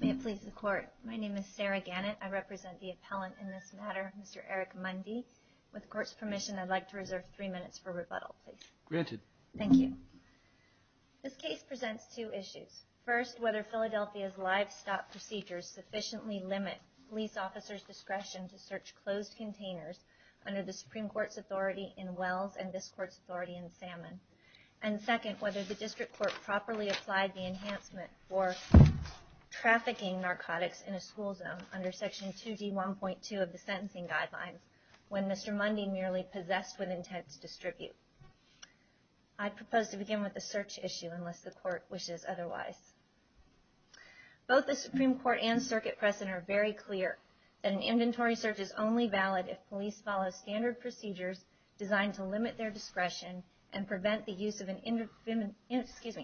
May it please the Court. My name is Sarah Gannett. I represent the appellant in this matter, Mr. Eric Mundy. With the Court's permission, I'd like to reserve three minutes for rebuttal, please. Granted. Thank you. This case presents two issues. First, whether Philadelphia's livestock procedures sufficiently limit police officers' discretion to search closed containers under the Supreme Court's authority in Wells and this Court's authority in Salmon. And second, whether the District Court properly applied the enhancement for trafficking narcotics in a school zone under Section 2D1.2 of the Sentencing Guidelines when Mr. Mundy merely possessed with intent to distribute. I propose to begin with the search issue unless the Court wishes otherwise. Both the Supreme Court and circuit precedent are very clear that an inventory search is only valid if police follow standard procedures designed to limit their discretion and prevent the use of an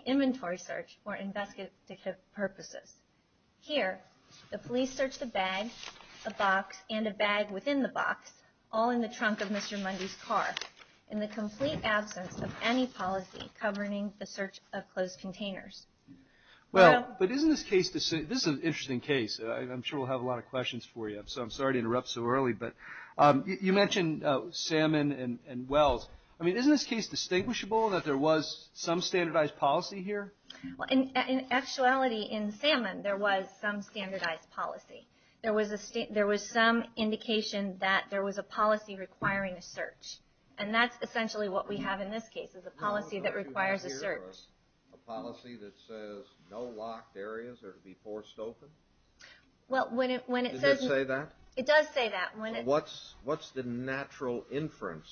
inventory search for investigative purposes. Here, the police searched a bag, a box, and a bag within the box, all in the trunk of Mr. Mundy's car, in the complete absence of any policy governing the search of closed containers. Well, but isn't this case, this is an interesting case. I'm sure we'll have a lot of questions for you, so I'm sorry to interrupt so early, but you mentioned Salmon and Wells. I mean, isn't this case distinguishable that there was some standardized policy here? Well, in actuality, in Salmon, there was some standardized policy. There was some indication that there was a policy requiring a search. And that's essentially what we have in this case, is a policy that requires a search. A policy that says no locked areas are to be forced open? Well, when it says... Does it say that? It does say that. What's the natural inference?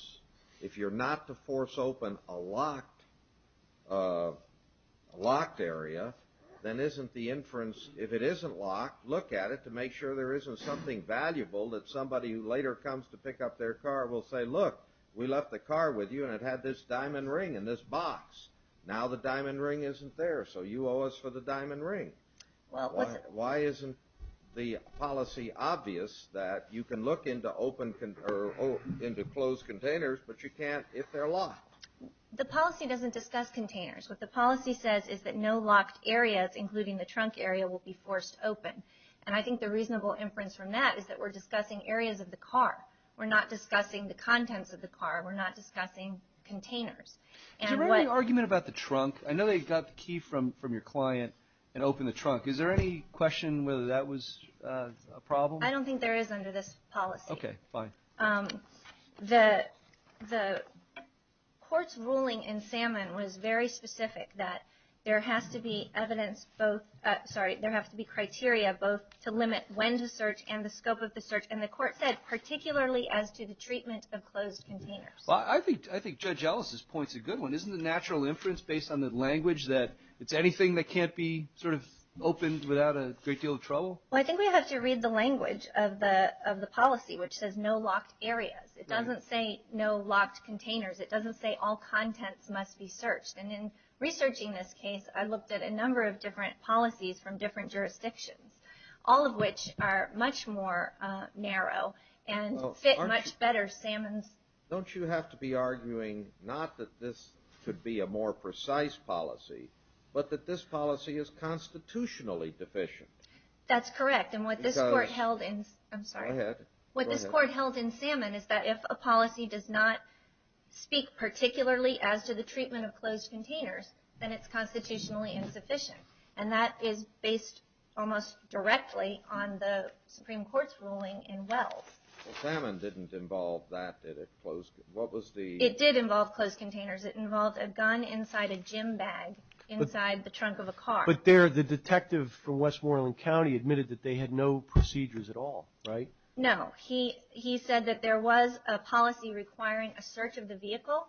If you're not to force open a locked area, then isn't the inference, if it isn't locked, look at it to make sure there isn't something valuable that somebody who later comes to pick up their car will say, look, we left the car with you and it had this diamond ring in this box. Now the diamond ring isn't there, so you owe us for the diamond ring. Why isn't the policy obvious that you can look into closed containers, but you can't if they're locked? The policy doesn't discuss containers. What the policy says is that no locked areas, including the trunk area, will be forced open. And I think the reasonable inference from that is that we're discussing areas of the car. We're not discussing the contents of the car. We're not discussing containers. Is there any argument about the trunk? I know they got the key from your client and opened the trunk. Is there any question whether that was a problem? I don't think there is under this policy. Okay, fine. The court's ruling in Salmon was very specific that there has to be criteria both to limit when to search and the scope of the search. And the court said particularly as to the treatment of closed containers. Well, I think Judge Ellis' point's a good one. Isn't the natural inference based on the language that it's anything that can't be sort of opened without a great deal of trouble? Well, I think we have to read the language of the policy, which says no locked areas. It doesn't say no locked containers. It doesn't say all contents must be searched. And in researching this case, I looked at a number of different policies from different jurisdictions, all of which are much more narrow and fit much better Salmon's... Don't you have to be arguing not that this could be a more precise policy, but that this policy is constitutionally deficient? That's correct. And what this court held in... I'm sorry. Go ahead. What this court held in Salmon is that if a policy does not speak particularly as to the treatment of closed containers, then it's constitutionally insufficient. And that is based almost directly on the Supreme Court's ruling in Wells. Salmon didn't involve that, did it? What was the... It did involve closed containers. It involved a gun inside a gym bag inside the trunk of a car. But the detective from Westmoreland County admitted that they had no procedures at all, right? No. He said that there was a policy requiring a search of the vehicle,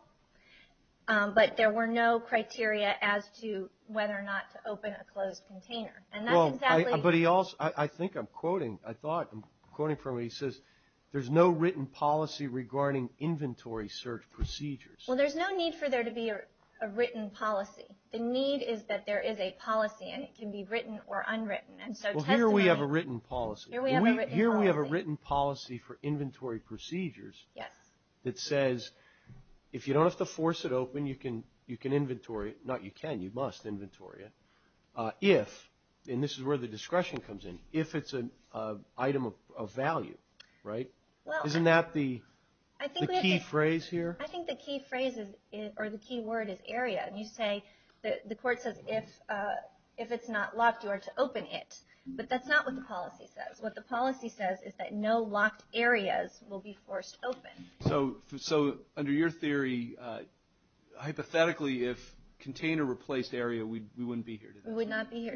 but there were no criteria as to whether or not to open a closed container. And that's exactly... But he also... I think I'm quoting. I thought... I'm quoting from what he says. There's no written policy regarding inventory search procedures. Well, there's no need for there to be a written policy. The need is that there is a policy and it can be written or unwritten. And so testimony... Well, here we have a written policy. Here we have a written policy. Here we have a written policy for inventory procedures... Yes. ...that says if you don't have to force it open, you can inventory it. Not you can. You This is where the discretion comes in. If it's an item of value, right? Well... Isn't that the... I think we have... ...the key phrase here? I think the key phrase is... or the key word is area. And you say... the court says if it's not locked, you are to open it. But that's not what the policy says. What the policy says is that no locked areas will be forced open. So under your theory, hypothetically, if container replaced area, we wouldn't be here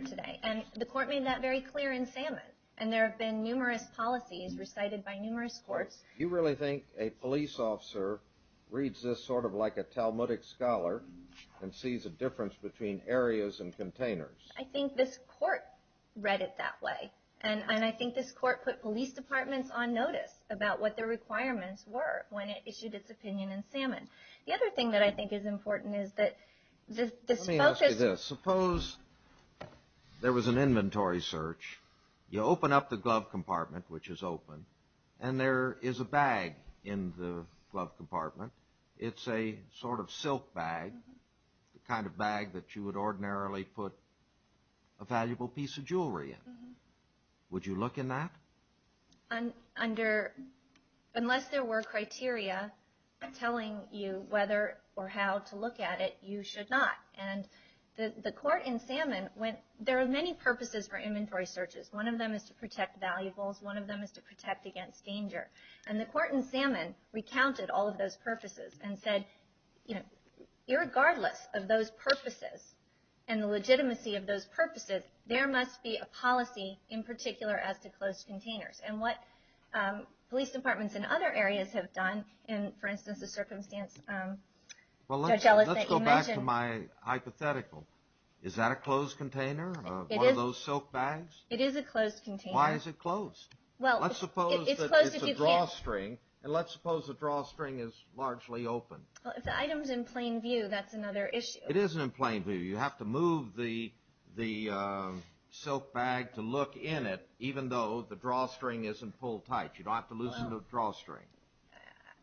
today. And the court made that very clear in Salmon. And there have been numerous policies recited by numerous courts. Do you really think a police officer reads this sort of like a Talmudic scholar and sees a difference between areas and containers? I think this court read it that way. And I think this court put police departments on notice about what their requirements were when it issued its opinion in Salmon. The other thing that I think is important is that this focus... There was an inventory search. You open up the glove compartment, which is open, and there is a bag in the glove compartment. It's a sort of silk bag, the kind of bag that you would ordinarily put a valuable piece of jewelry in. Would you look in that? Under... unless there were criteria telling you whether or how to look at it, you should not. And the court in Salmon went... there are many purposes for inventory searches. One of them is to protect valuables. One of them is to protect against danger. And the court in Salmon recounted all of those purposes and said, you know, irregardless of those purposes and the legitimacy of those purposes, there must be a policy in particular as to closed containers. And what police departments in other areas have done in, for instance, the circumstance Judge Ellison mentioned... Well, let's go back to my hypothetical. Is that a closed container, one of those silk bags? It is a closed container. Why is it closed? Well, it's closed if you can't... Let's suppose that it's a drawstring, and let's suppose the drawstring is largely open. Well, if the item's in plain view, that's another issue. It isn't in plain view. You have to move the silk bag to look in it, even though the drawstring isn't pulled tight. You don't have to loosen the drawstring.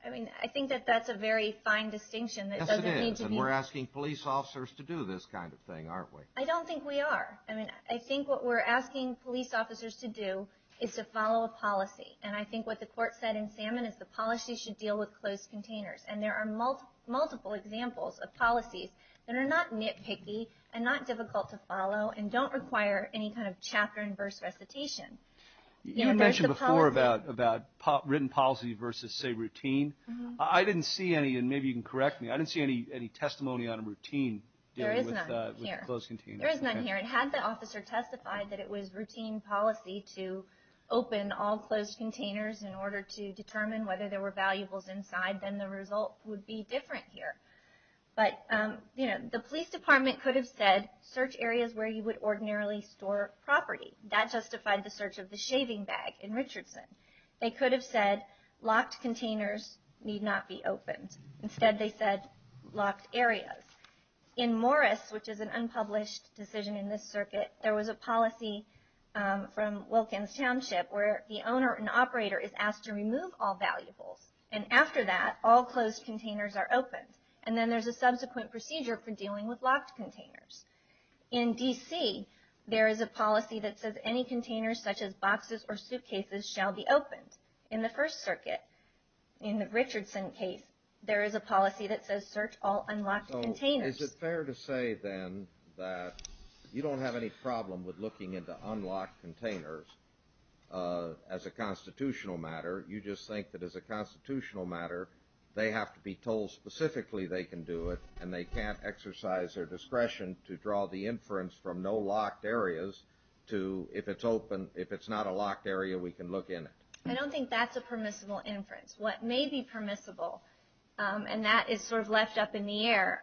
I mean, I think that that's a very fine distinction. Yes, it is. And we're asking police officers to do this kind of thing, aren't we? I don't think we are. I mean, I think what we're asking police officers to do is to follow a policy. And I think what the court said in Salmon is the policy should deal with closed containers. And there are multiple examples of policies that are not nitpicky and not difficult to follow and don't require any kind of chapter and verse recitation. You mentioned before about written policy versus, say, routine. I didn't see any, and maybe you can correct me, I didn't see any testimony on a routine dealing with closed containers. There is none here. And had the officer testified that it was routine policy to open all closed containers in order to determine whether there were valuables inside, then the result would be different here. But the police department could have said, search areas where you would search of the shaving bag in Richardson. They could have said locked containers need not be opened. Instead, they said locked areas. In Morris, which is an unpublished decision in this circuit, there was a policy from Wilkins Township where the owner and operator is asked to remove all valuables. And after that, all closed containers are opened. And then there's a subsequent procedure for dealing with locked containers. In D.C., there is a policy that says any containers such as boxes or suitcases shall be opened. In the First Circuit, in the Richardson case, there is a policy that says search all unlocked containers. So is it fair to say, then, that you don't have any problem with looking into unlocked containers as a constitutional matter? You just think that as a constitutional matter, they have to be told specifically they can do it, and they can't exercise their discretion to draw the inference from no locked areas to, if it's open, if it's not a locked area, we can look in it. I don't think that's a permissible inference. What may be permissible, and that is sort of left up in the air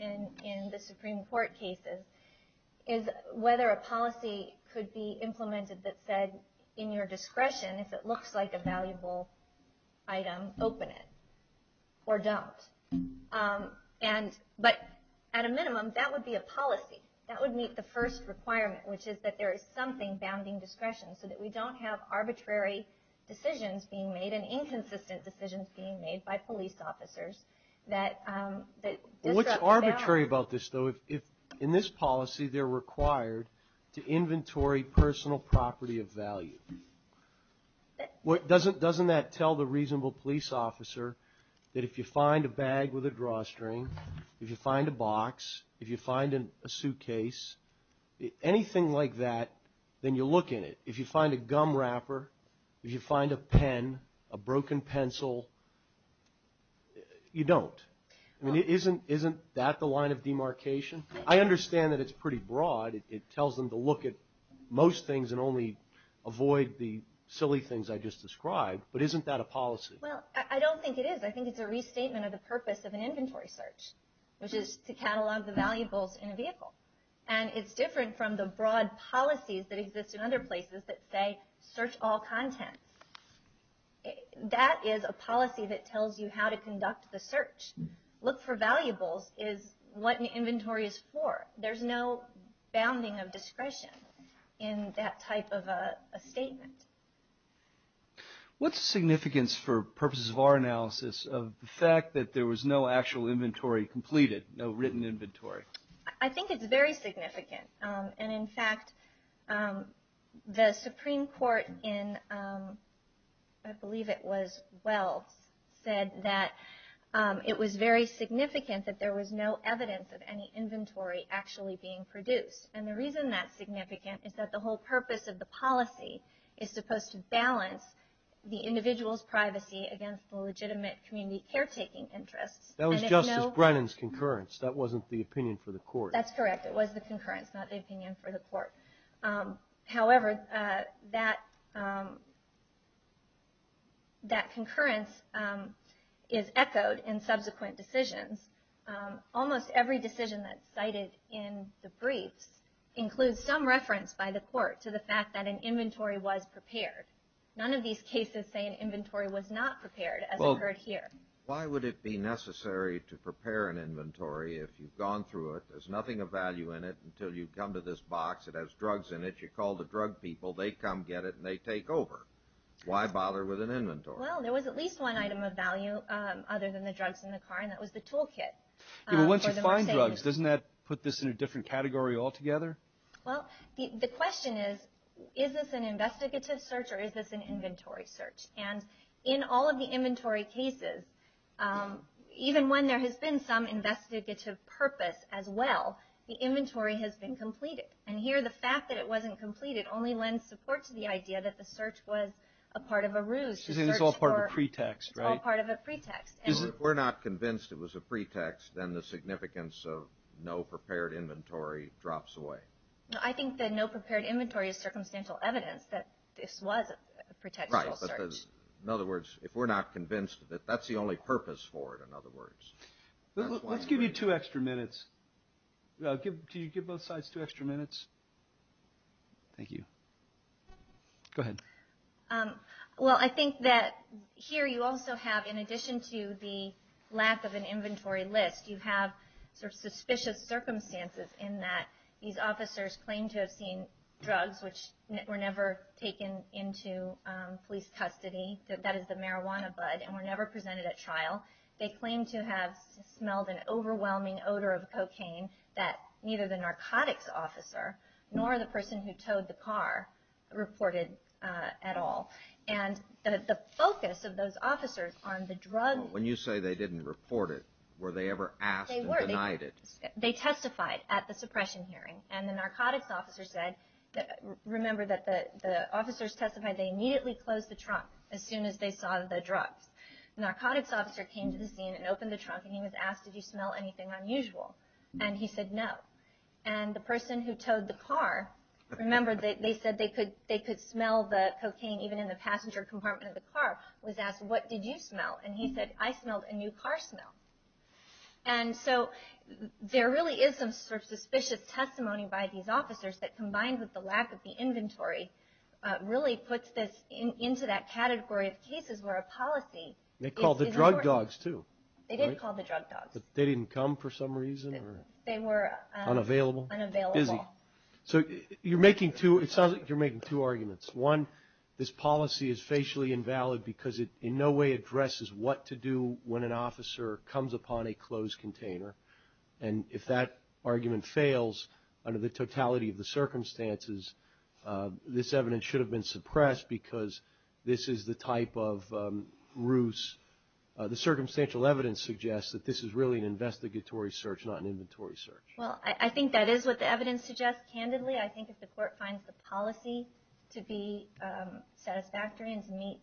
in the Supreme Court cases, is whether a policy could be implemented that said, in your discretion, if it looks like a valuable item, open it, or don't. But at a minimum, that would be a policy. That would meet the first requirement, which is that there is something bounding discretion, so that we don't have arbitrary decisions being made and inconsistent decisions being made by police officers that disrupt the balance. I worry about this, though. In this policy, they're required to inventory personal property of value. Doesn't that tell the reasonable police officer that if you find a bag with a drawstring, if you find a box, if you find a suitcase, anything like that, then you look in it. If you find a gum wrapper, if you find a pen, a broken pencil, you don't. I mean, isn't that the line of demarcation? I understand that it's pretty broad. It tells them to look at most things and only avoid the silly things I just described, but isn't that a policy? Well, I don't think it is. I think it's a restatement of the purpose of an inventory search, which is to catalog the valuables in a vehicle. And it's different from the broad policies that exist in other places that say, search all contents. That is a policy that tells you how to conduct the search. Look for valuables is what an inventory is for. There's no bounding of discretion in that type of a statement. What's the significance for purposes of our analysis of the fact that there was no actual inventory completed, no written inventory? I think it's very significant. And in fact, the Supreme Court in, I believe it was Wells, said that it was very significant that there was no evidence of any inventory actually being produced. And the reason that's significant is that the whole purpose of the policy is supposed to balance the individual's privacy against the legitimate community caretaking interests. That was Justice Brennan's concurrence. That wasn't the opinion for the court. That's correct. It was the concurrence, not the opinion for the court. However, that concurrence is echoed in subsequent decisions. Almost every decision that's cited in the briefs includes some reference by the court to the fact that an inventory was prepared. None of these cases say an inventory was not prepared, as occurred here. Why would it be necessary to prepare an inventory if you've gone through it, there's nothing of value in it, until you've come to this box, it has drugs in it, you call the drug people, they come get it, and they take over. Why bother with an inventory? Well, there was at least one item of value other than the drugs in the car, and that was the toolkit. Yeah, but once you find drugs, doesn't that put this in a different category altogether? Well, the question is, is this an investigative search or is this an inventory search? And in all of the inventory cases, even when there has been some investigative purpose as well, the inventory has been completed. And here, the fact that it wasn't completed only lends support to the idea that the search was a part of a ruse. It's all part of a pretext, right? It's all part of a pretext. If we're not convinced it was a pretext, then the significance of no prepared inventory drops away. I think that no prepared inventory is circumstantial evidence that this was a pretextual search. In other words, if we're not convinced that that's the only purpose for it, in other words. Let's give you two extra minutes. Can you give both sides two extra minutes? Thank you. Go ahead. Well, I think that here you also have, in addition to the lack of an inventory list, you have sort of suspicious circumstances in that these officers claim to have seen that is the marijuana bud and were never presented at trial. They claim to have smelled an overwhelming odor of cocaine that neither the narcotics officer nor the person who towed the car reported at all. And the focus of those officers on the drug... When you say they didn't report it, were they ever asked and denied it? They were. They testified at the suppression hearing. And the narcotics officer said, remember that the officers testified, they immediately closed the trunk as soon as they saw the drugs. The narcotics officer came to the scene and opened the trunk, and he was asked, did you smell anything unusual? And he said no. And the person who towed the car, remember they said they could smell the cocaine even in the passenger compartment of the car, was asked, what did you smell? And he said, I smelled a new car smell. And so there really is some sort of suspicious testimony by these officers that, combined with the lack of the inventory, really puts this into that category of cases where a policy is important. They called the drug dogs, too. They did call the drug dogs. But they didn't come for some reason? They were unavailable. Unavailable. Busy. So you're making two arguments. One, this policy is facially invalid because it in no way addresses what to do when an officer comes upon a closed container. And if that argument fails under the totality of the circumstances, this evidence should have been suppressed because this is the type of ruse. The circumstantial evidence suggests that this is really an investigatory search, not an inventory search. Well, I think that is what the evidence suggests, candidly. I think if the court finds the policy to be satisfactory and to meet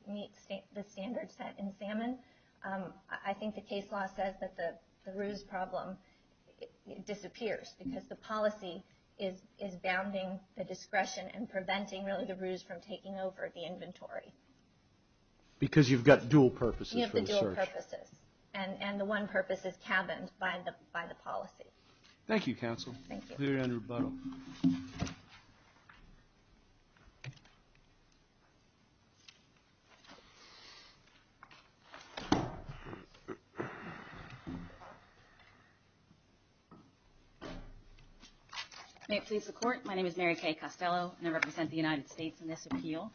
the standards set in Salmon, I think the case law says that the ruse problem disappears because the policy is bounding the discretion and preventing really the ruse from taking over the inventory. Because you've got dual purposes for the search. You have the dual purposes. And the one purpose is cabined by the policy. Thank you, Counsel. Thank you. Cleared under rebuttal. May it please the Court. My name is Mary Kay Costello, and I represent the United States in this appeal.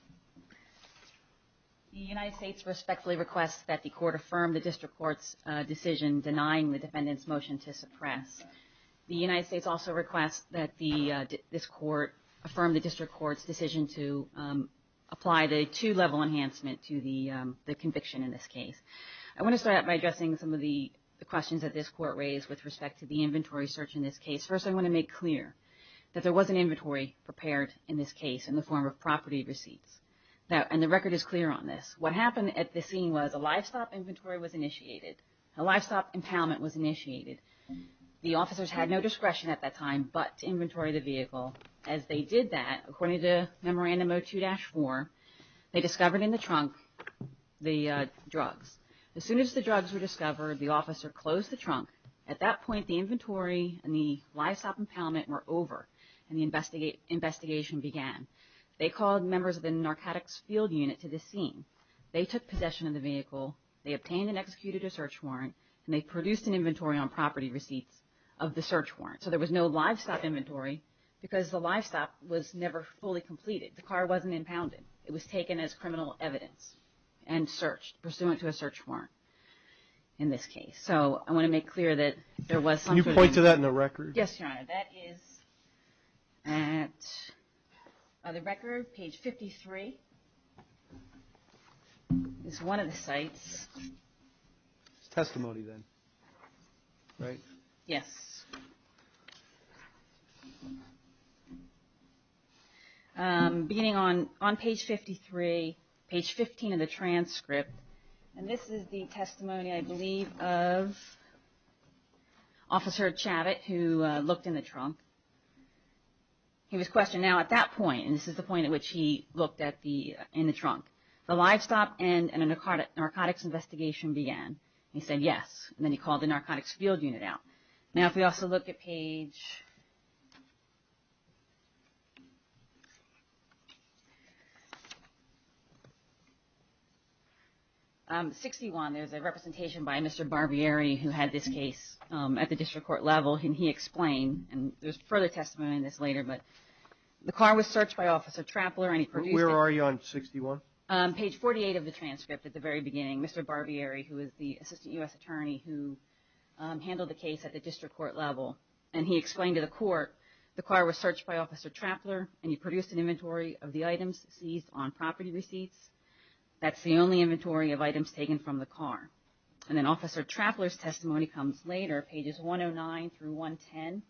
The United States respectfully requests that the court affirm the district court's decision denying the defendant's motion to suppress. The United States also requests that this court affirm the district court's decision to apply the two-level enhancement to the conviction in this case. I want to start out by addressing some of the questions that this court raised with respect to the inventory search in this case. First, I want to make clear that there was an inventory prepared in this case in the form of property receipts. And the record is clear on this. What happened at the scene was a livestock inventory was initiated. A livestock impoundment was initiated. The officers had no discretion at that time but to inventory the vehicle. As they did that, according to Memorandum 02-4, they discovered in the trunk the drugs. As soon as the drugs were discovered, the officer closed the trunk. At that point, the inventory and the livestock impoundment were over and the investigation began. They called members of the narcotics field unit to the scene. They took possession of the vehicle. They obtained and executed a search warrant, and they produced an inventory on property receipts of the search warrant. So there was no livestock inventory because the livestock was never fully completed. The car wasn't impounded. It was taken as criminal evidence and searched, pursuant to a search warrant in this case. So I want to make clear that there was something. Can you point to that in the record? Yes, Your Honor. That is at the record, page 53. It's one of the sites. It's testimony then, right? Yes. Beginning on page 53, page 15 of the transcript, and this is the testimony, I believe, of Officer Chabot, who looked in the trunk. He was questioned. Now, at that point, and this is the point at which he looked in the trunk, the livestock and the narcotics investigation began. He said yes, and then he called the narcotics field unit out. Now, if we also look at page 61, there's a representation by Mr. Barbieri who had this case at the district court level, and he explained, and there's further testimony on this later, but the car was searched by Officer Trappler. Where are you on 61? Page 48 of the transcript at the very beginning, Mr. Barbieri, who is the Assistant U.S. Attorney, who handled the case at the district court level, and he explained to the court, the car was searched by Officer Trappler, and he produced an inventory of the items seized on property receipts. That's the only inventory of items taken from the car. And then Officer Trappler's testimony comes later, pages 109 through 110.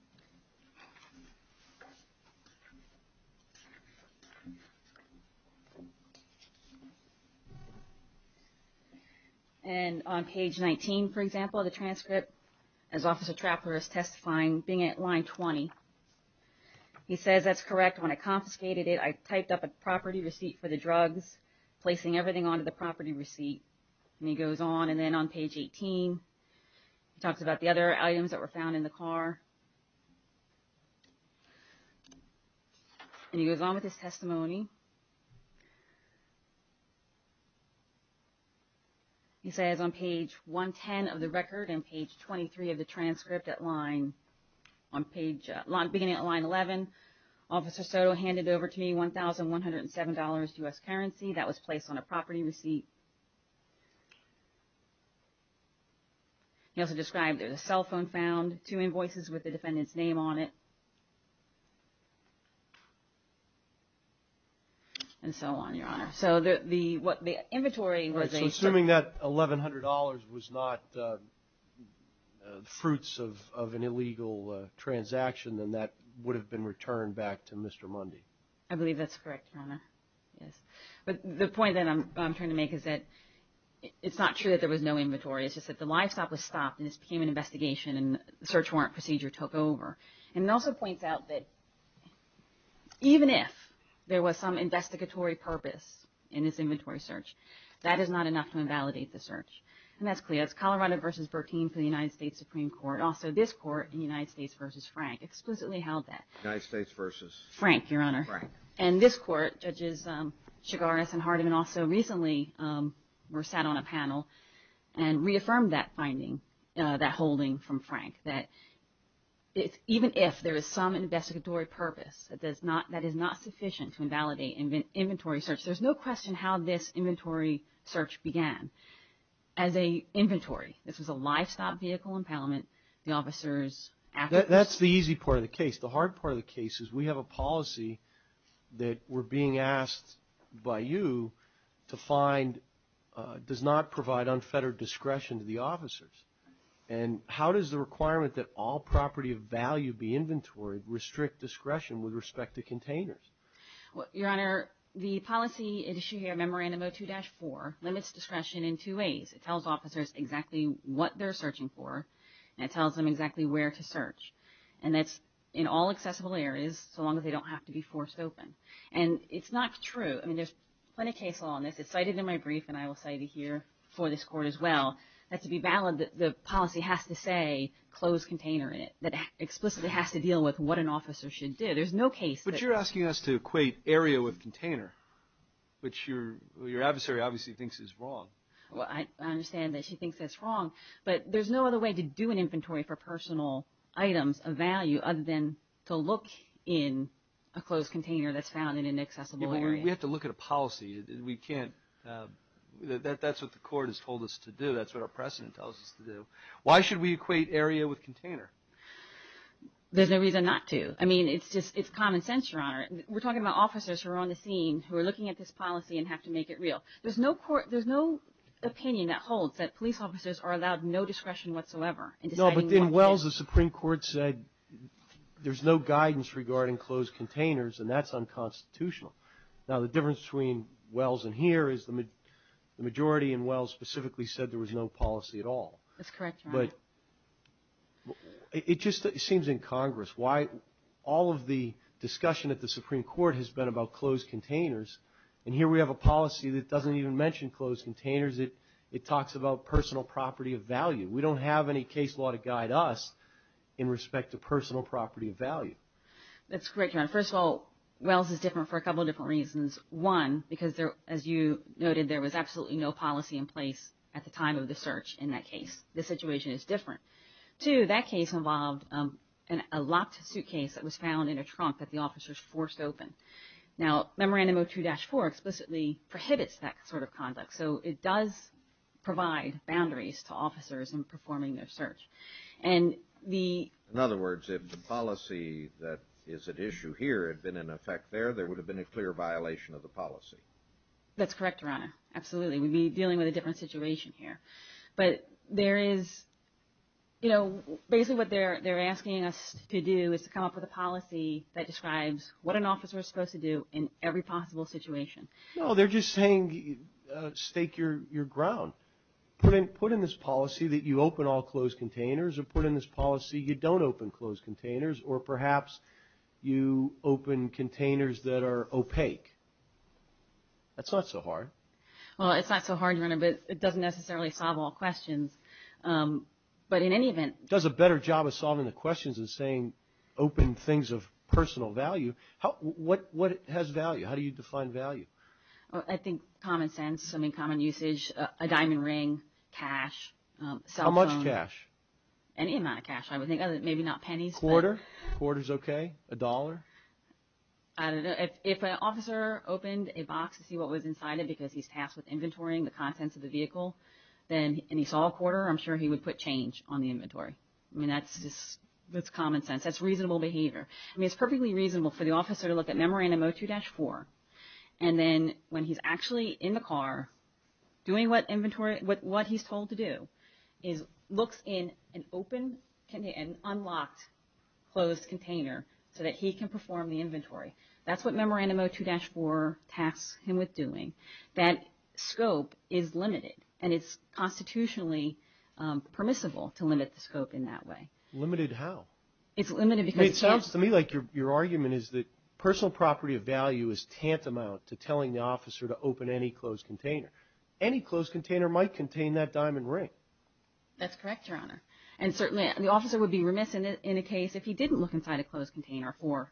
And on page 19, for example, of the transcript, as Officer Trappler is testifying, being at line 20, he says, that's correct, when I confiscated it, I typed up a property receipt for the drugs, placing everything onto the property receipt. And he goes on, and then on page 18, he talks about the other items that were found in the car. And he goes on with his testimony. He says on page 110 of the record and page 23 of the transcript at line, beginning at line 11, Officer Soto handed over to me $1,107 U.S. currency that was placed on a property receipt. He also described there was a cell phone found, two invoices with the defendant's name on it, and so on, Your Honor. So the inventory was a certain – So assuming that $1,100 was not fruits of an illegal transaction, then that would have been returned back to Mr. Mundy. I believe that's correct, Your Honor. Yes. But the point that I'm trying to make is that it's not true that there was no inventory. It's just that the livestock was stopped, and this became an investigation, and the search warrant procedure took over. And it also points out that even if there was some investigatory purpose in this inventory search, that is not enough to invalidate the search. And that's clear. It's Colorado v. Bertine for the United States Supreme Court. Also, this court, United States v. Frank, explicitly held that. United States v. Frank, Your Honor. Frank. And this court, Judges Chigares and Hardeman also recently were sat on a panel and reaffirmed that finding, that holding from Frank, that even if there is some investigatory purpose, that is not sufficient to invalidate inventory search. There's no question how this inventory search began. As an inventory, this was a livestock vehicle impoundment. The officers – That's the easy part of the case. The hard part of the case is we have a policy that we're being asked by you to find does not provide unfettered discretion to the officers. And how does the requirement that all property of value be inventoried restrict discretion with respect to containers? Your Honor, the policy issue here, Memorandum 02-4, limits discretion in two ways. It tells officers exactly what they're searching for, and it tells them exactly where to search. And that's in all accessible areas so long as they don't have to be forced open. And it's not true. I mean, there's plenty of case law on this. It's cited in my brief, and I will cite it here for this court as well. That's to be valid, the policy has to say close container. It explicitly has to deal with what an officer should do. There's no case that – But you're asking us to equate area with container, which your adversary obviously thinks is wrong. Well, I understand that she thinks that's wrong, but there's no other way to do an inventory for personal items of value other than to look in a closed container that's found in an accessible area. We have to look at a policy. We can't – that's what the court has told us to do. That's what our precedent tells us to do. Why should we equate area with container? There's no reason not to. I mean, it's common sense, Your Honor. We're talking about officers who are on the scene, who are looking at this policy and have to make it real. There's no opinion that holds that police officers are allowed no discretion whatsoever in deciding what to do. No, but in Wells, the Supreme Court said there's no guidance regarding closed containers, and that's unconstitutional. Now, the difference between Wells and here is the majority in Wells specifically said there was no policy at all. That's correct, Your Honor. It just seems incongruous why all of the discussion at the Supreme Court has been about closed containers, and here we have a policy that doesn't even mention closed containers. It talks about personal property of value. We don't have any case law to guide us in respect to personal property of value. That's correct, Your Honor. First of all, Wells is different for a couple of different reasons. One, because as you noted, there was absolutely no policy in place at the time of the search in that case. The situation is different. Two, that case involved a locked suitcase that was found in a trunk that the officers forced open. Now, Memorandum 02-4 explicitly prohibits that sort of conduct, so it does provide boundaries to officers in performing their search. In other words, if the policy that is at issue here had been in effect there, there would have been a clear violation of the policy. That's correct, Your Honor. Absolutely. We'd be dealing with a different situation here. But basically what they're asking us to do is to come up with a policy that describes what an officer is supposed to do in every possible situation. No, they're just saying stake your ground. Put in this policy that you open all closed containers or put in this policy you don't open closed containers or perhaps you open containers that are opaque. That's not so hard. Well, it's not so hard, Your Honor, but it doesn't necessarily solve all questions. But in any event, it does a better job of solving the questions than saying open things of personal value. What has value? How do you define value? I think common sense, common usage, a diamond ring, cash, cell phone. How much cash? Any amount of cash. Maybe not pennies. A quarter? A quarter is okay. A dollar? I don't know. If an officer opened a box to see what was inside it because he's tasked with inventorying the contents of the vehicle and he saw a quarter, I'm sure he would put change on the inventory. I mean, that's common sense. That's reasonable behavior. I mean, it's perfectly reasonable for the officer to look at Memorandum 02-4 and then when he's actually in the car doing what he's told to do is looks in an open and unlocked closed container so that he can perform the inventory. That's what Memorandum 02-4 tasks him with doing. That scope is limited, and it's constitutionally permissible to limit the scope in that way. Limited how? It's limited because cash. It seems to me like your argument is that personal property of value is tantamount to telling the officer to open any closed container. Any closed container might contain that diamond ring. That's correct, Your Honor. And certainly the officer would be remiss in a case if he didn't look inside a closed container for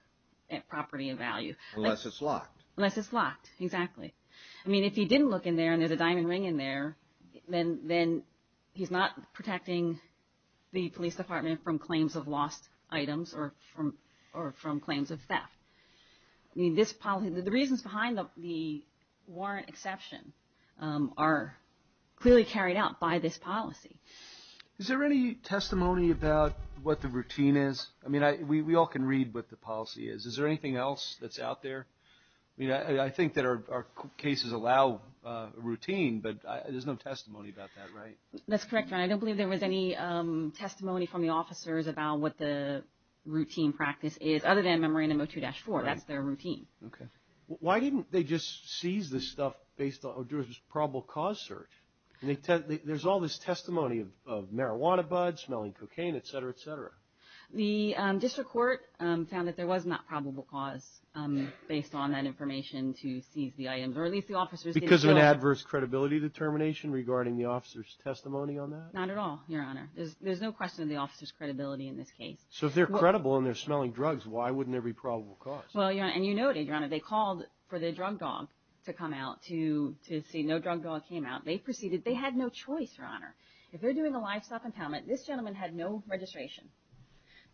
property of value. Unless it's locked. Unless it's locked, exactly. I mean, if he didn't look in there and there's a diamond ring in there, then he's not protecting the police department from claims of lost items or from claims of theft. The reasons behind the warrant exception are clearly carried out by this policy. Is there any testimony about what the routine is? I mean, we all can read what the policy is. Is there anything else that's out there? I mean, I think that our cases allow a routine, but there's no testimony about that, right? That's correct, Your Honor. I don't believe there was any testimony from the officers about what the routine practice is other than memorandum 02-4. That's their routine. Okay. Why didn't they just seize this stuff based on a probable cause search? There's all this testimony of marijuana buds, smelling cocaine, et cetera, et cetera. The district court found that there was not probable cause based on that information to seize the items, or at least the officers didn't know. Because of an adverse credibility determination regarding the officers' testimony on that? Not at all, Your Honor. There's no question of the officers' credibility in this case. So if they're credible and they're smelling drugs, why wouldn't there be probable cause? Well, Your Honor, and you noted, Your Honor, they called for the drug dog to come out to see. No drug dog came out. They proceeded. They had no choice, Your Honor. If they're doing a livestock impoundment, this gentleman had no registration.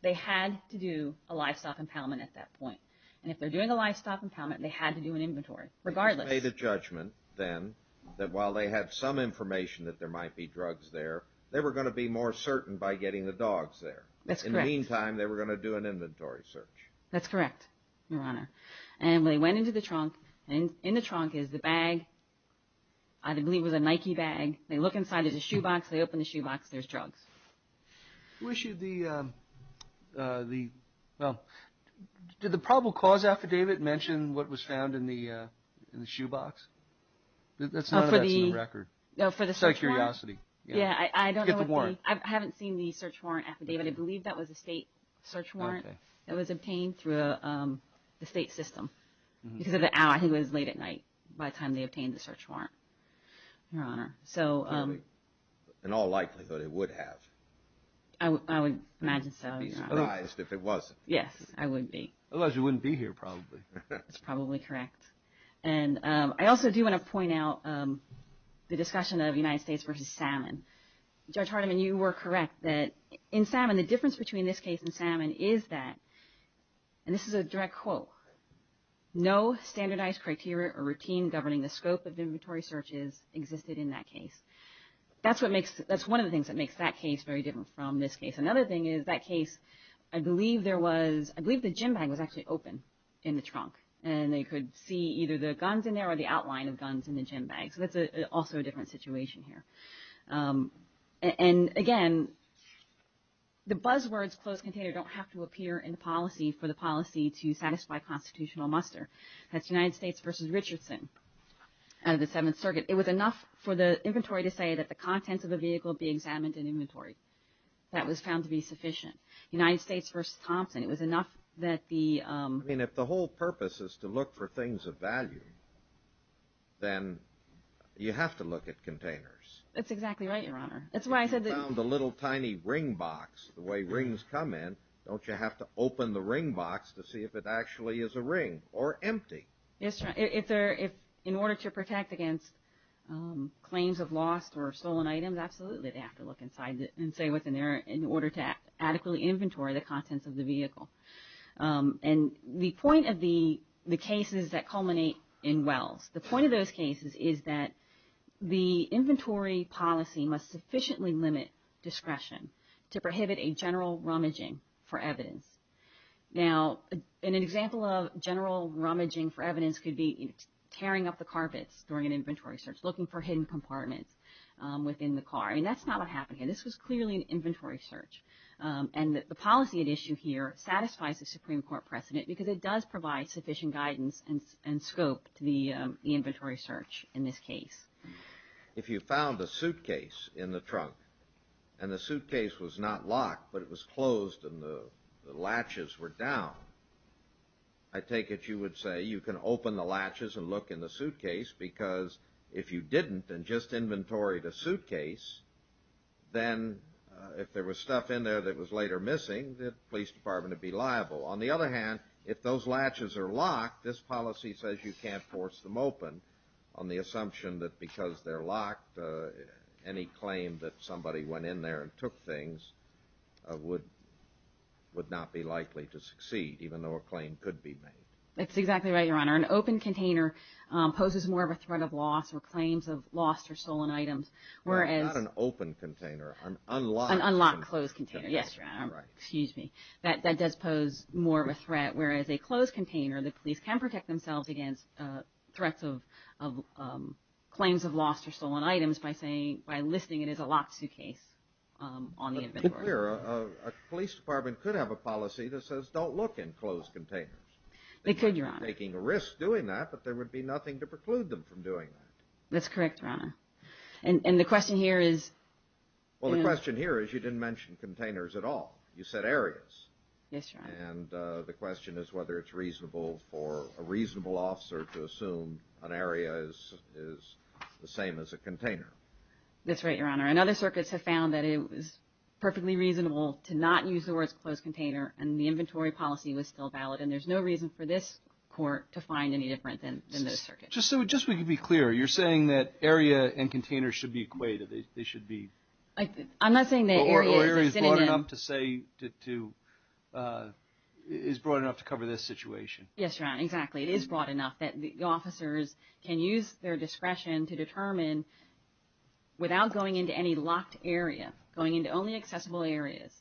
They had to do a livestock impoundment at that point. And if they're doing a livestock impoundment, they had to do an inventory, regardless. They just made a judgment then that while they had some information that there might be drugs there, they were going to be more certain by getting the dogs there. That's correct. In the meantime, they were going to do an inventory search. That's correct, Your Honor. And they went into the trunk, and in the trunk is the bag. I believe it was a Nike bag. They look inside. There's a shoebox. They open the shoebox. There's drugs. Who issued the – well, did the probable cause affidavit mention what was found in the shoebox? That's not in the record. No, for the search warrant. Just out of curiosity. Yeah, I don't know what the – To get the warrant. I haven't seen the search warrant affidavit. I believe that was a state search warrant. Okay. It was obtained through the state system because of the hour. I think it was late at night by the time they obtained the search warrant, Your Honor. So – In all likelihood, it would have. I would imagine so, Your Honor. If it wasn't. Yes, I would be. Unless you wouldn't be here, probably. That's probably correct. And I also do want to point out the discussion of United States versus Salmon. Judge Hardiman, you were correct that in Salmon, the difference between this case and Salmon is that – and this is a direct quote – no standardized criteria or routine governing the scope of inventory searches existed in that case. That's what makes – that's one of the things that makes that case very different from this case. Another thing is that case, I believe there was – I believe the gym bag was actually open in the trunk, and they could see either the guns in there or the outline of guns in the gym bag. So that's also a different situation here. And again, the buzzwords closed container don't have to appear in the policy for the policy to satisfy constitutional muster. That's United States versus Richardson out of the Seventh Circuit. It was enough for the inventory to say that the contents of a vehicle be examined in inventory. That was found to be sufficient. United States versus Thompson, it was enough that the – I mean, if the whole purpose is to look for things of value, then you have to look at containers. That's exactly right, Your Honor. That's why I said that – If you found a little tiny ring box, the way rings come in, don't you have to open the ring box to see if it actually is a ring or empty? Yes, Your Honor. If there – in order to protect against claims of lost or stolen items, absolutely, they have to look inside and say what's in there in order to adequately inventory the contents of the vehicle. And the point of the cases that culminate in Wells, the point of those cases is that the inventory policy must sufficiently limit discretion to prohibit a general rummaging for evidence. Now, an example of general rummaging for evidence could be tearing up the carpets during an inventory search, looking for hidden compartments within the car. I mean, that's not what happened here. This was clearly an inventory search. And the policy at issue here satisfies the Supreme Court precedent because it does provide sufficient guidance and scope to the inventory search in this case. If you found a suitcase in the trunk and the suitcase was not locked, but it was closed and the latches were down, I take it you would say you can open the latches and look in the suitcase because if you didn't and just inventoried a suitcase, then if there was stuff in there that was later missing, the police department would be liable. On the other hand, if those latches are locked, this policy says you can't force them open on the assumption that because they're locked, any claim that somebody went in there and took things would not be likely to succeed, even though a claim could be made. That's exactly right, Your Honor. An open container poses more of a threat of loss or claims of lost or stolen items. Not an open container. An unlocked closed container. Yes, Your Honor. Excuse me. That does pose more of a threat, whereas a closed container, the police can protect themselves against threats of claims of lost or stolen items by listing it as a locked suitcase on the inventory. To be clear, a police department could have a policy that says don't look in closed containers. They could, Your Honor. They're not taking a risk doing that, but there would be nothing to preclude them from doing that. That's correct, Your Honor. And the question here is? Well, the question here is you didn't mention containers at all. You said areas. Yes, Your Honor. And the question is whether it's reasonable for a reasonable officer to assume an area is the same as a container. That's right, Your Honor. And other circuits have found that it was perfectly reasonable to not use the words closed container and the inventory policy was still valid, and there's no reason for this court to find any different than those circuits. Just so we can be clear, you're saying that area and container should be equated. They should be. I'm not saying that area is the same. Or area is broad enough to cover this situation. Yes, Your Honor, exactly. It is broad enough that the officers can use their discretion to determine, without going into any locked area, going into only accessible areas,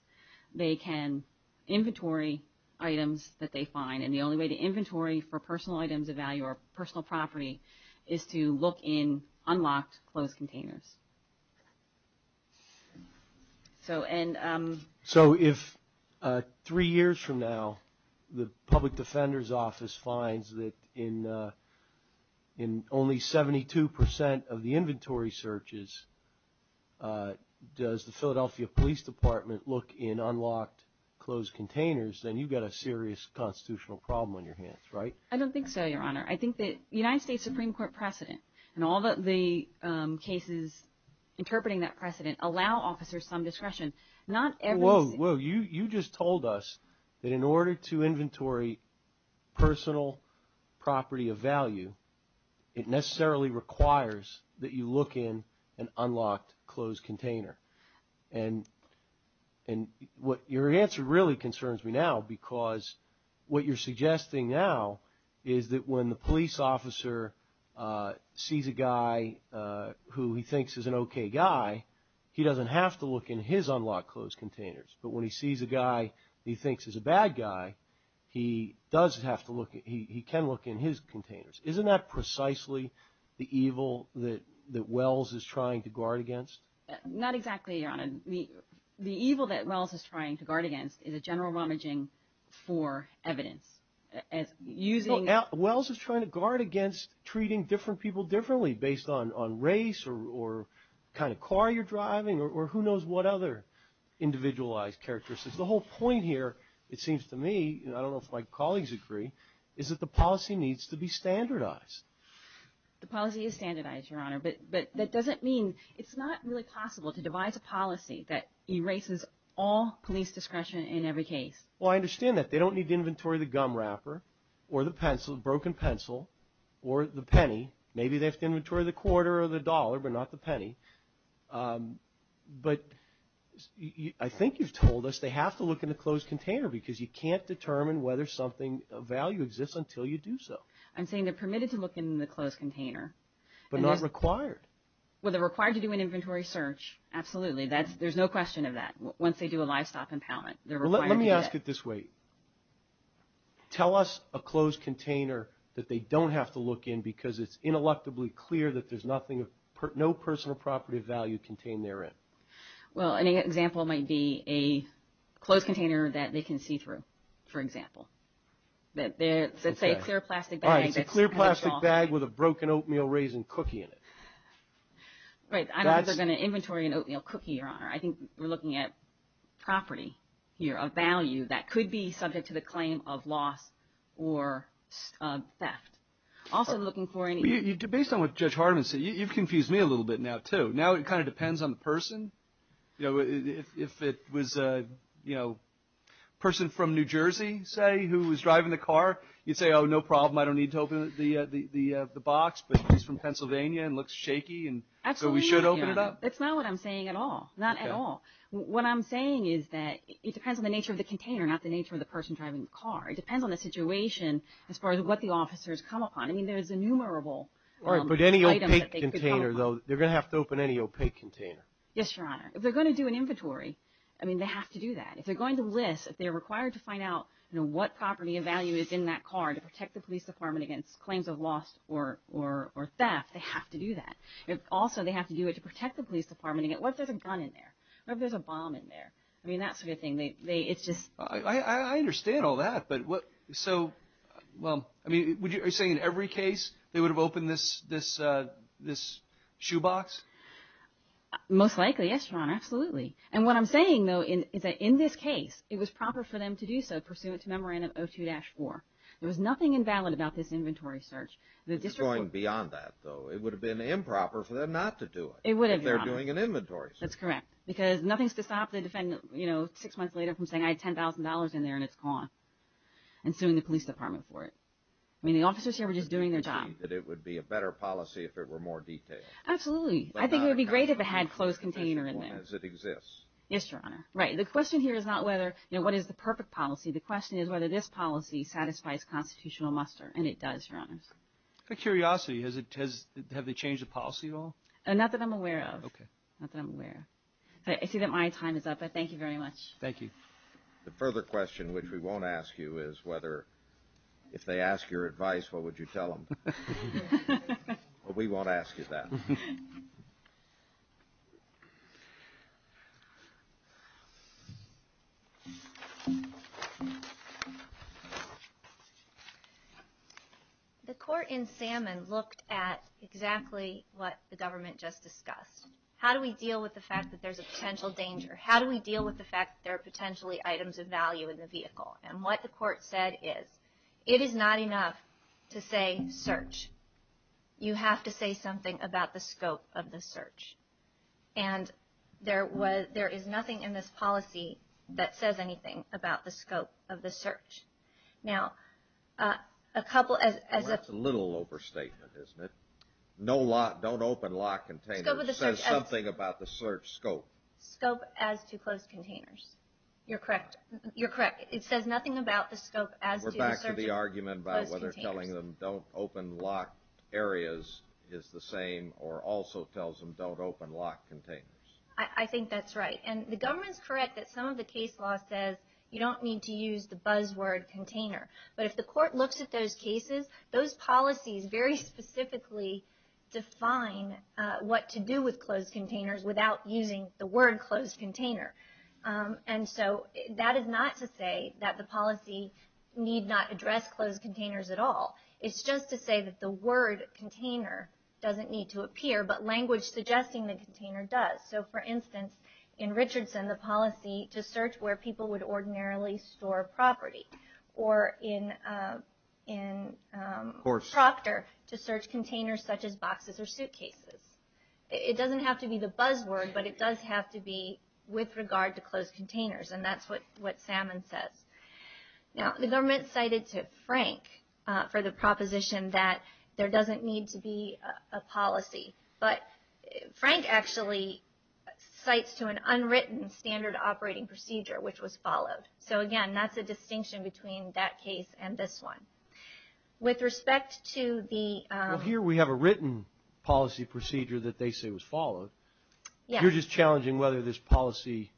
they can inventory items that they find, and the only way to inventory for personal items of value or personal property is to look in unlocked closed containers. So if three years from now the Public Defender's Office finds that in only 72% of the inventory searches, does the Philadelphia Police Department look in unlocked closed containers, then you've got a serious constitutional problem on your hands, right? I don't think so, Your Honor. I think the United States Supreme Court precedent and all the cases interpreting that precedent allow officers some discretion. Whoa, whoa. You just told us that in order to inventory personal property of value, it necessarily requires that you look in an unlocked closed container. And your answer really concerns me now because what you're suggesting now is that when the police officer sees a guy who he thinks is an okay guy, he doesn't have to look in his unlocked closed containers. But when he sees a guy he thinks is a bad guy, he can look in his containers. Isn't that precisely the evil that Wells is trying to guard against? Not exactly, Your Honor. The evil that Wells is trying to guard against is a general rummaging for evidence. Wells is trying to guard against treating different people differently based on race or the kind of car you're driving or who knows what other individualized characteristics. The whole point here, it seems to me, I don't know if my colleagues agree, is that the policy needs to be standardized. The policy is standardized, Your Honor, but that doesn't mean it's not really possible to devise a policy that erases all police discretion in every case. Well, I understand that. They don't need to inventory the gum wrapper or the broken pencil or the penny. Maybe they have to inventory the quarter or the dollar but not the penny. But I think you've told us they have to look in the closed container because you can't determine whether something of value exists until you do so. I'm saying they're permitted to look in the closed container. But not required. Well, they're required to do an inventory search, absolutely. There's no question of that once they do a livestock impoundment. Let me ask it this way. Tell us a closed container that they don't have to look in because it's intellectually clear that there's no personal property of value contained therein. Well, an example might be a closed container that they can see through, for example. Let's say a clear plastic bag. All right, it's a clear plastic bag with a broken oatmeal raisin cookie in it. I think we're looking at property here of value that could be subject to the claim of loss or theft. Based on what Judge Hardeman said, you've confused me a little bit now, too. Now it kind of depends on the person. If it was a person from New Jersey, say, who was driving the car, you'd say, oh, no problem, I don't need to open the box, but he's from Pennsylvania and looks shaky. Absolutely. So we should open it up? That's not what I'm saying at all, not at all. What I'm saying is that it depends on the nature of the container, not the nature of the person driving the car. It depends on the situation as far as what the officers come upon. I mean, there's innumerable items that they could come upon. All right, but any opaque container, though, they're going to have to open any opaque container. Yes, Your Honor. If they're going to do an inventory, I mean, they have to do that. If they're going to list, if they're required to find out what property of value is in that car to protect the police department against claims of loss or theft, they have to do that. Also, they have to do it to protect the police department. What if there's a gun in there? What if there's a bomb in there? I mean, that sort of thing. It's just – I understand all that, but what – so, well, I mean, are you saying in every case they would have opened this shoe box? Most likely, yes, Your Honor, absolutely. And what I'm saying, though, is that in this case it was proper for them to do so, pursuant to Memorandum 02-4. There was nothing invalid about this inventory search. It's going beyond that, though. It would have been improper for them not to do it. It would have, Your Honor. If they're doing an inventory search. That's correct. Because nothing's to stop the defendant, you know, six months later from saying, I had $10,000 in there and it's gone and suing the police department for it. I mean, the officers here were just doing their job. It would be a better policy if it were more detailed. Absolutely. I think it would be great if it had a closed container in there. As it exists. Yes, Your Honor. Right. The question here is not whether, you know, what is the perfect policy. The question is whether this policy satisfies constitutional muster. And it does, Your Honor. Out of curiosity, have they changed the policy at all? Not that I'm aware of. Okay. Not that I'm aware of. I see that my time is up, but thank you very much. Thank you. The further question, which we won't ask you, is whether if they ask your advice, what would you tell them? What we won't ask is that. The court in Salmon looked at exactly what the government just discussed. How do we deal with the fact that there's a potential danger? How do we deal with the fact that there are potentially items of value in the vehicle? And what the court said is, it is not enough to say search. You have to say something about the scope of the search. And there is nothing in this policy that says anything about the scope of the search. Now, a couple as of the. Well, that's a little overstatement, isn't it? Don't open lock containers. It says something about the search scope. Scope as to closed containers. You're correct. You're correct. It says nothing about the scope as to the search of closed containers. We're back to the argument about whether telling them don't open lock areas is the same or also tells them don't open lock containers. I think that's right. And the government is correct that some of the case law says you don't need to use the buzzword container. But if the court looks at those cases, those policies very specifically define what to do with closed containers without using the word closed container. And so that is not to say that the policy need not address closed containers at all. It's just to say that the word container doesn't need to appear, but language suggesting the container does. So, for instance, in Richardson, the policy to search where people would ordinarily store property. Or in Proctor, to search containers such as boxes or suitcases. It doesn't have to be the buzzword, but it does have to be with regard to closed containers. And that's what Salmon says. Now, the government cited to Frank for the proposition that there doesn't need to be a policy. But Frank actually cites to an unwritten standard operating procedure, which was followed. So, again, that's a distinction between that case and this one. With respect to the – Well, here we have a written policy procedure that they say was followed. You're just challenging whether this policy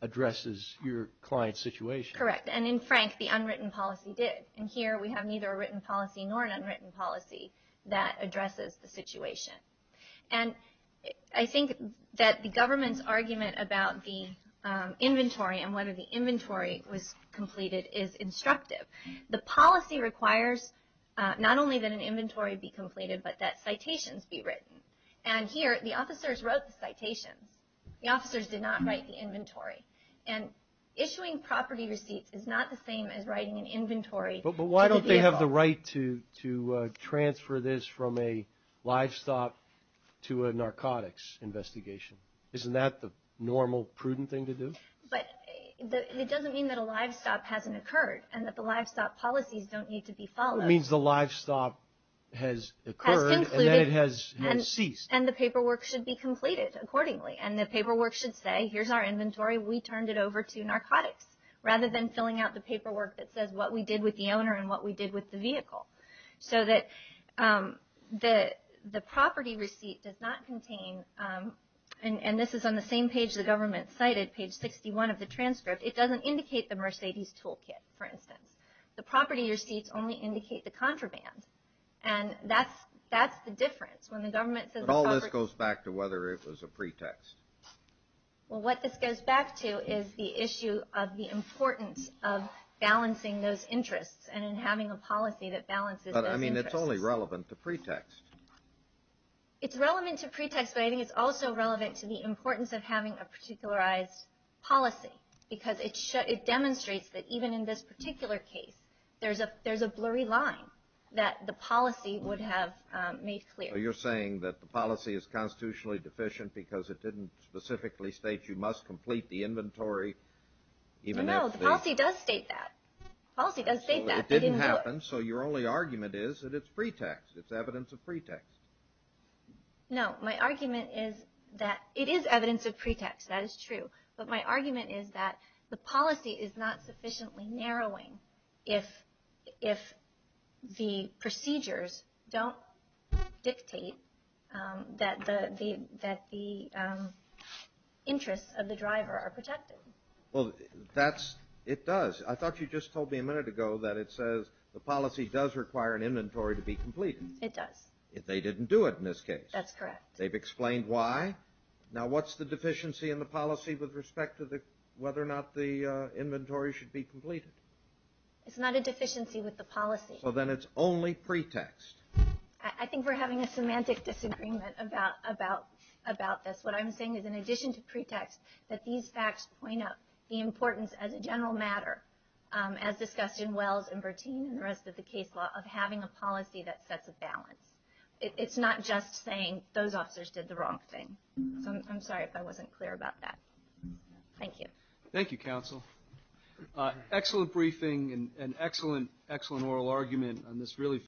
addresses your client's situation. Correct. And in Frank, the unwritten policy did. And here we have neither a written policy nor an unwritten policy that addresses the situation. And I think that the government's argument about the inventory and whether the inventory was completed is instructive. The policy requires not only that an inventory be completed, but that citations be written. And here, the officers wrote the citations. The officers did not write the inventory. And issuing property receipts is not the same as writing an inventory to the vehicle. But why don't they have the right to transfer this from a livestock to a narcotics investigation? Isn't that the normal, prudent thing to do? But it doesn't mean that a livestock hasn't occurred and that the livestock policies don't need to be followed. It means the livestock has occurred and then it has ceased. And the paperwork should be completed accordingly. And the paperwork should say, here's our inventory, we turned it over to narcotics, rather than filling out the paperwork that says what we did with the owner and what we did with the vehicle. So that the property receipt does not contain, and this is on the same page the government cited, page 61 of the transcript. It doesn't indicate the Mercedes toolkit, for instance. The property receipts only indicate the contraband. And that's the difference. When the government says the property – But all this goes back to whether it was a pretext. Well, what this goes back to is the issue of the importance of balancing those interests and in having a policy that balances those interests. But I mean it's only relevant to pretext. It's relevant to pretext, but I think it's also relevant to the importance of having a particularized policy. Because it demonstrates that even in this particular case, there's a blurry line that the policy would have made clear. So you're saying that the policy is constitutionally deficient because it didn't specifically state you must complete the inventory even if the – No, the policy does state that. The policy does state that. It didn't happen, so your only argument is that it's pretext. It's evidence of pretext. No, my argument is that it is evidence of pretext. That is true. But my argument is that the policy is not sufficiently narrowing if the procedures don't dictate that the interests of the driver are protected. Well, that's – it does. I thought you just told me a minute ago that it says the policy does require an inventory to be completed. It does. They didn't do it in this case. That's correct. They've explained why. Now, what's the deficiency in the policy with respect to whether or not the inventory should be completed? It's not a deficiency with the policy. Well, then it's only pretext. I think we're having a semantic disagreement about this. What I'm saying is, in addition to pretext, that these facts point out the importance, as a general matter, as discussed in Wells and Bertin and the rest of the case law, of having a policy that sets a balance. It's not just saying those officers did the wrong thing. So I'm sorry if I wasn't clear about that. Thank you. Thank you, Counsel.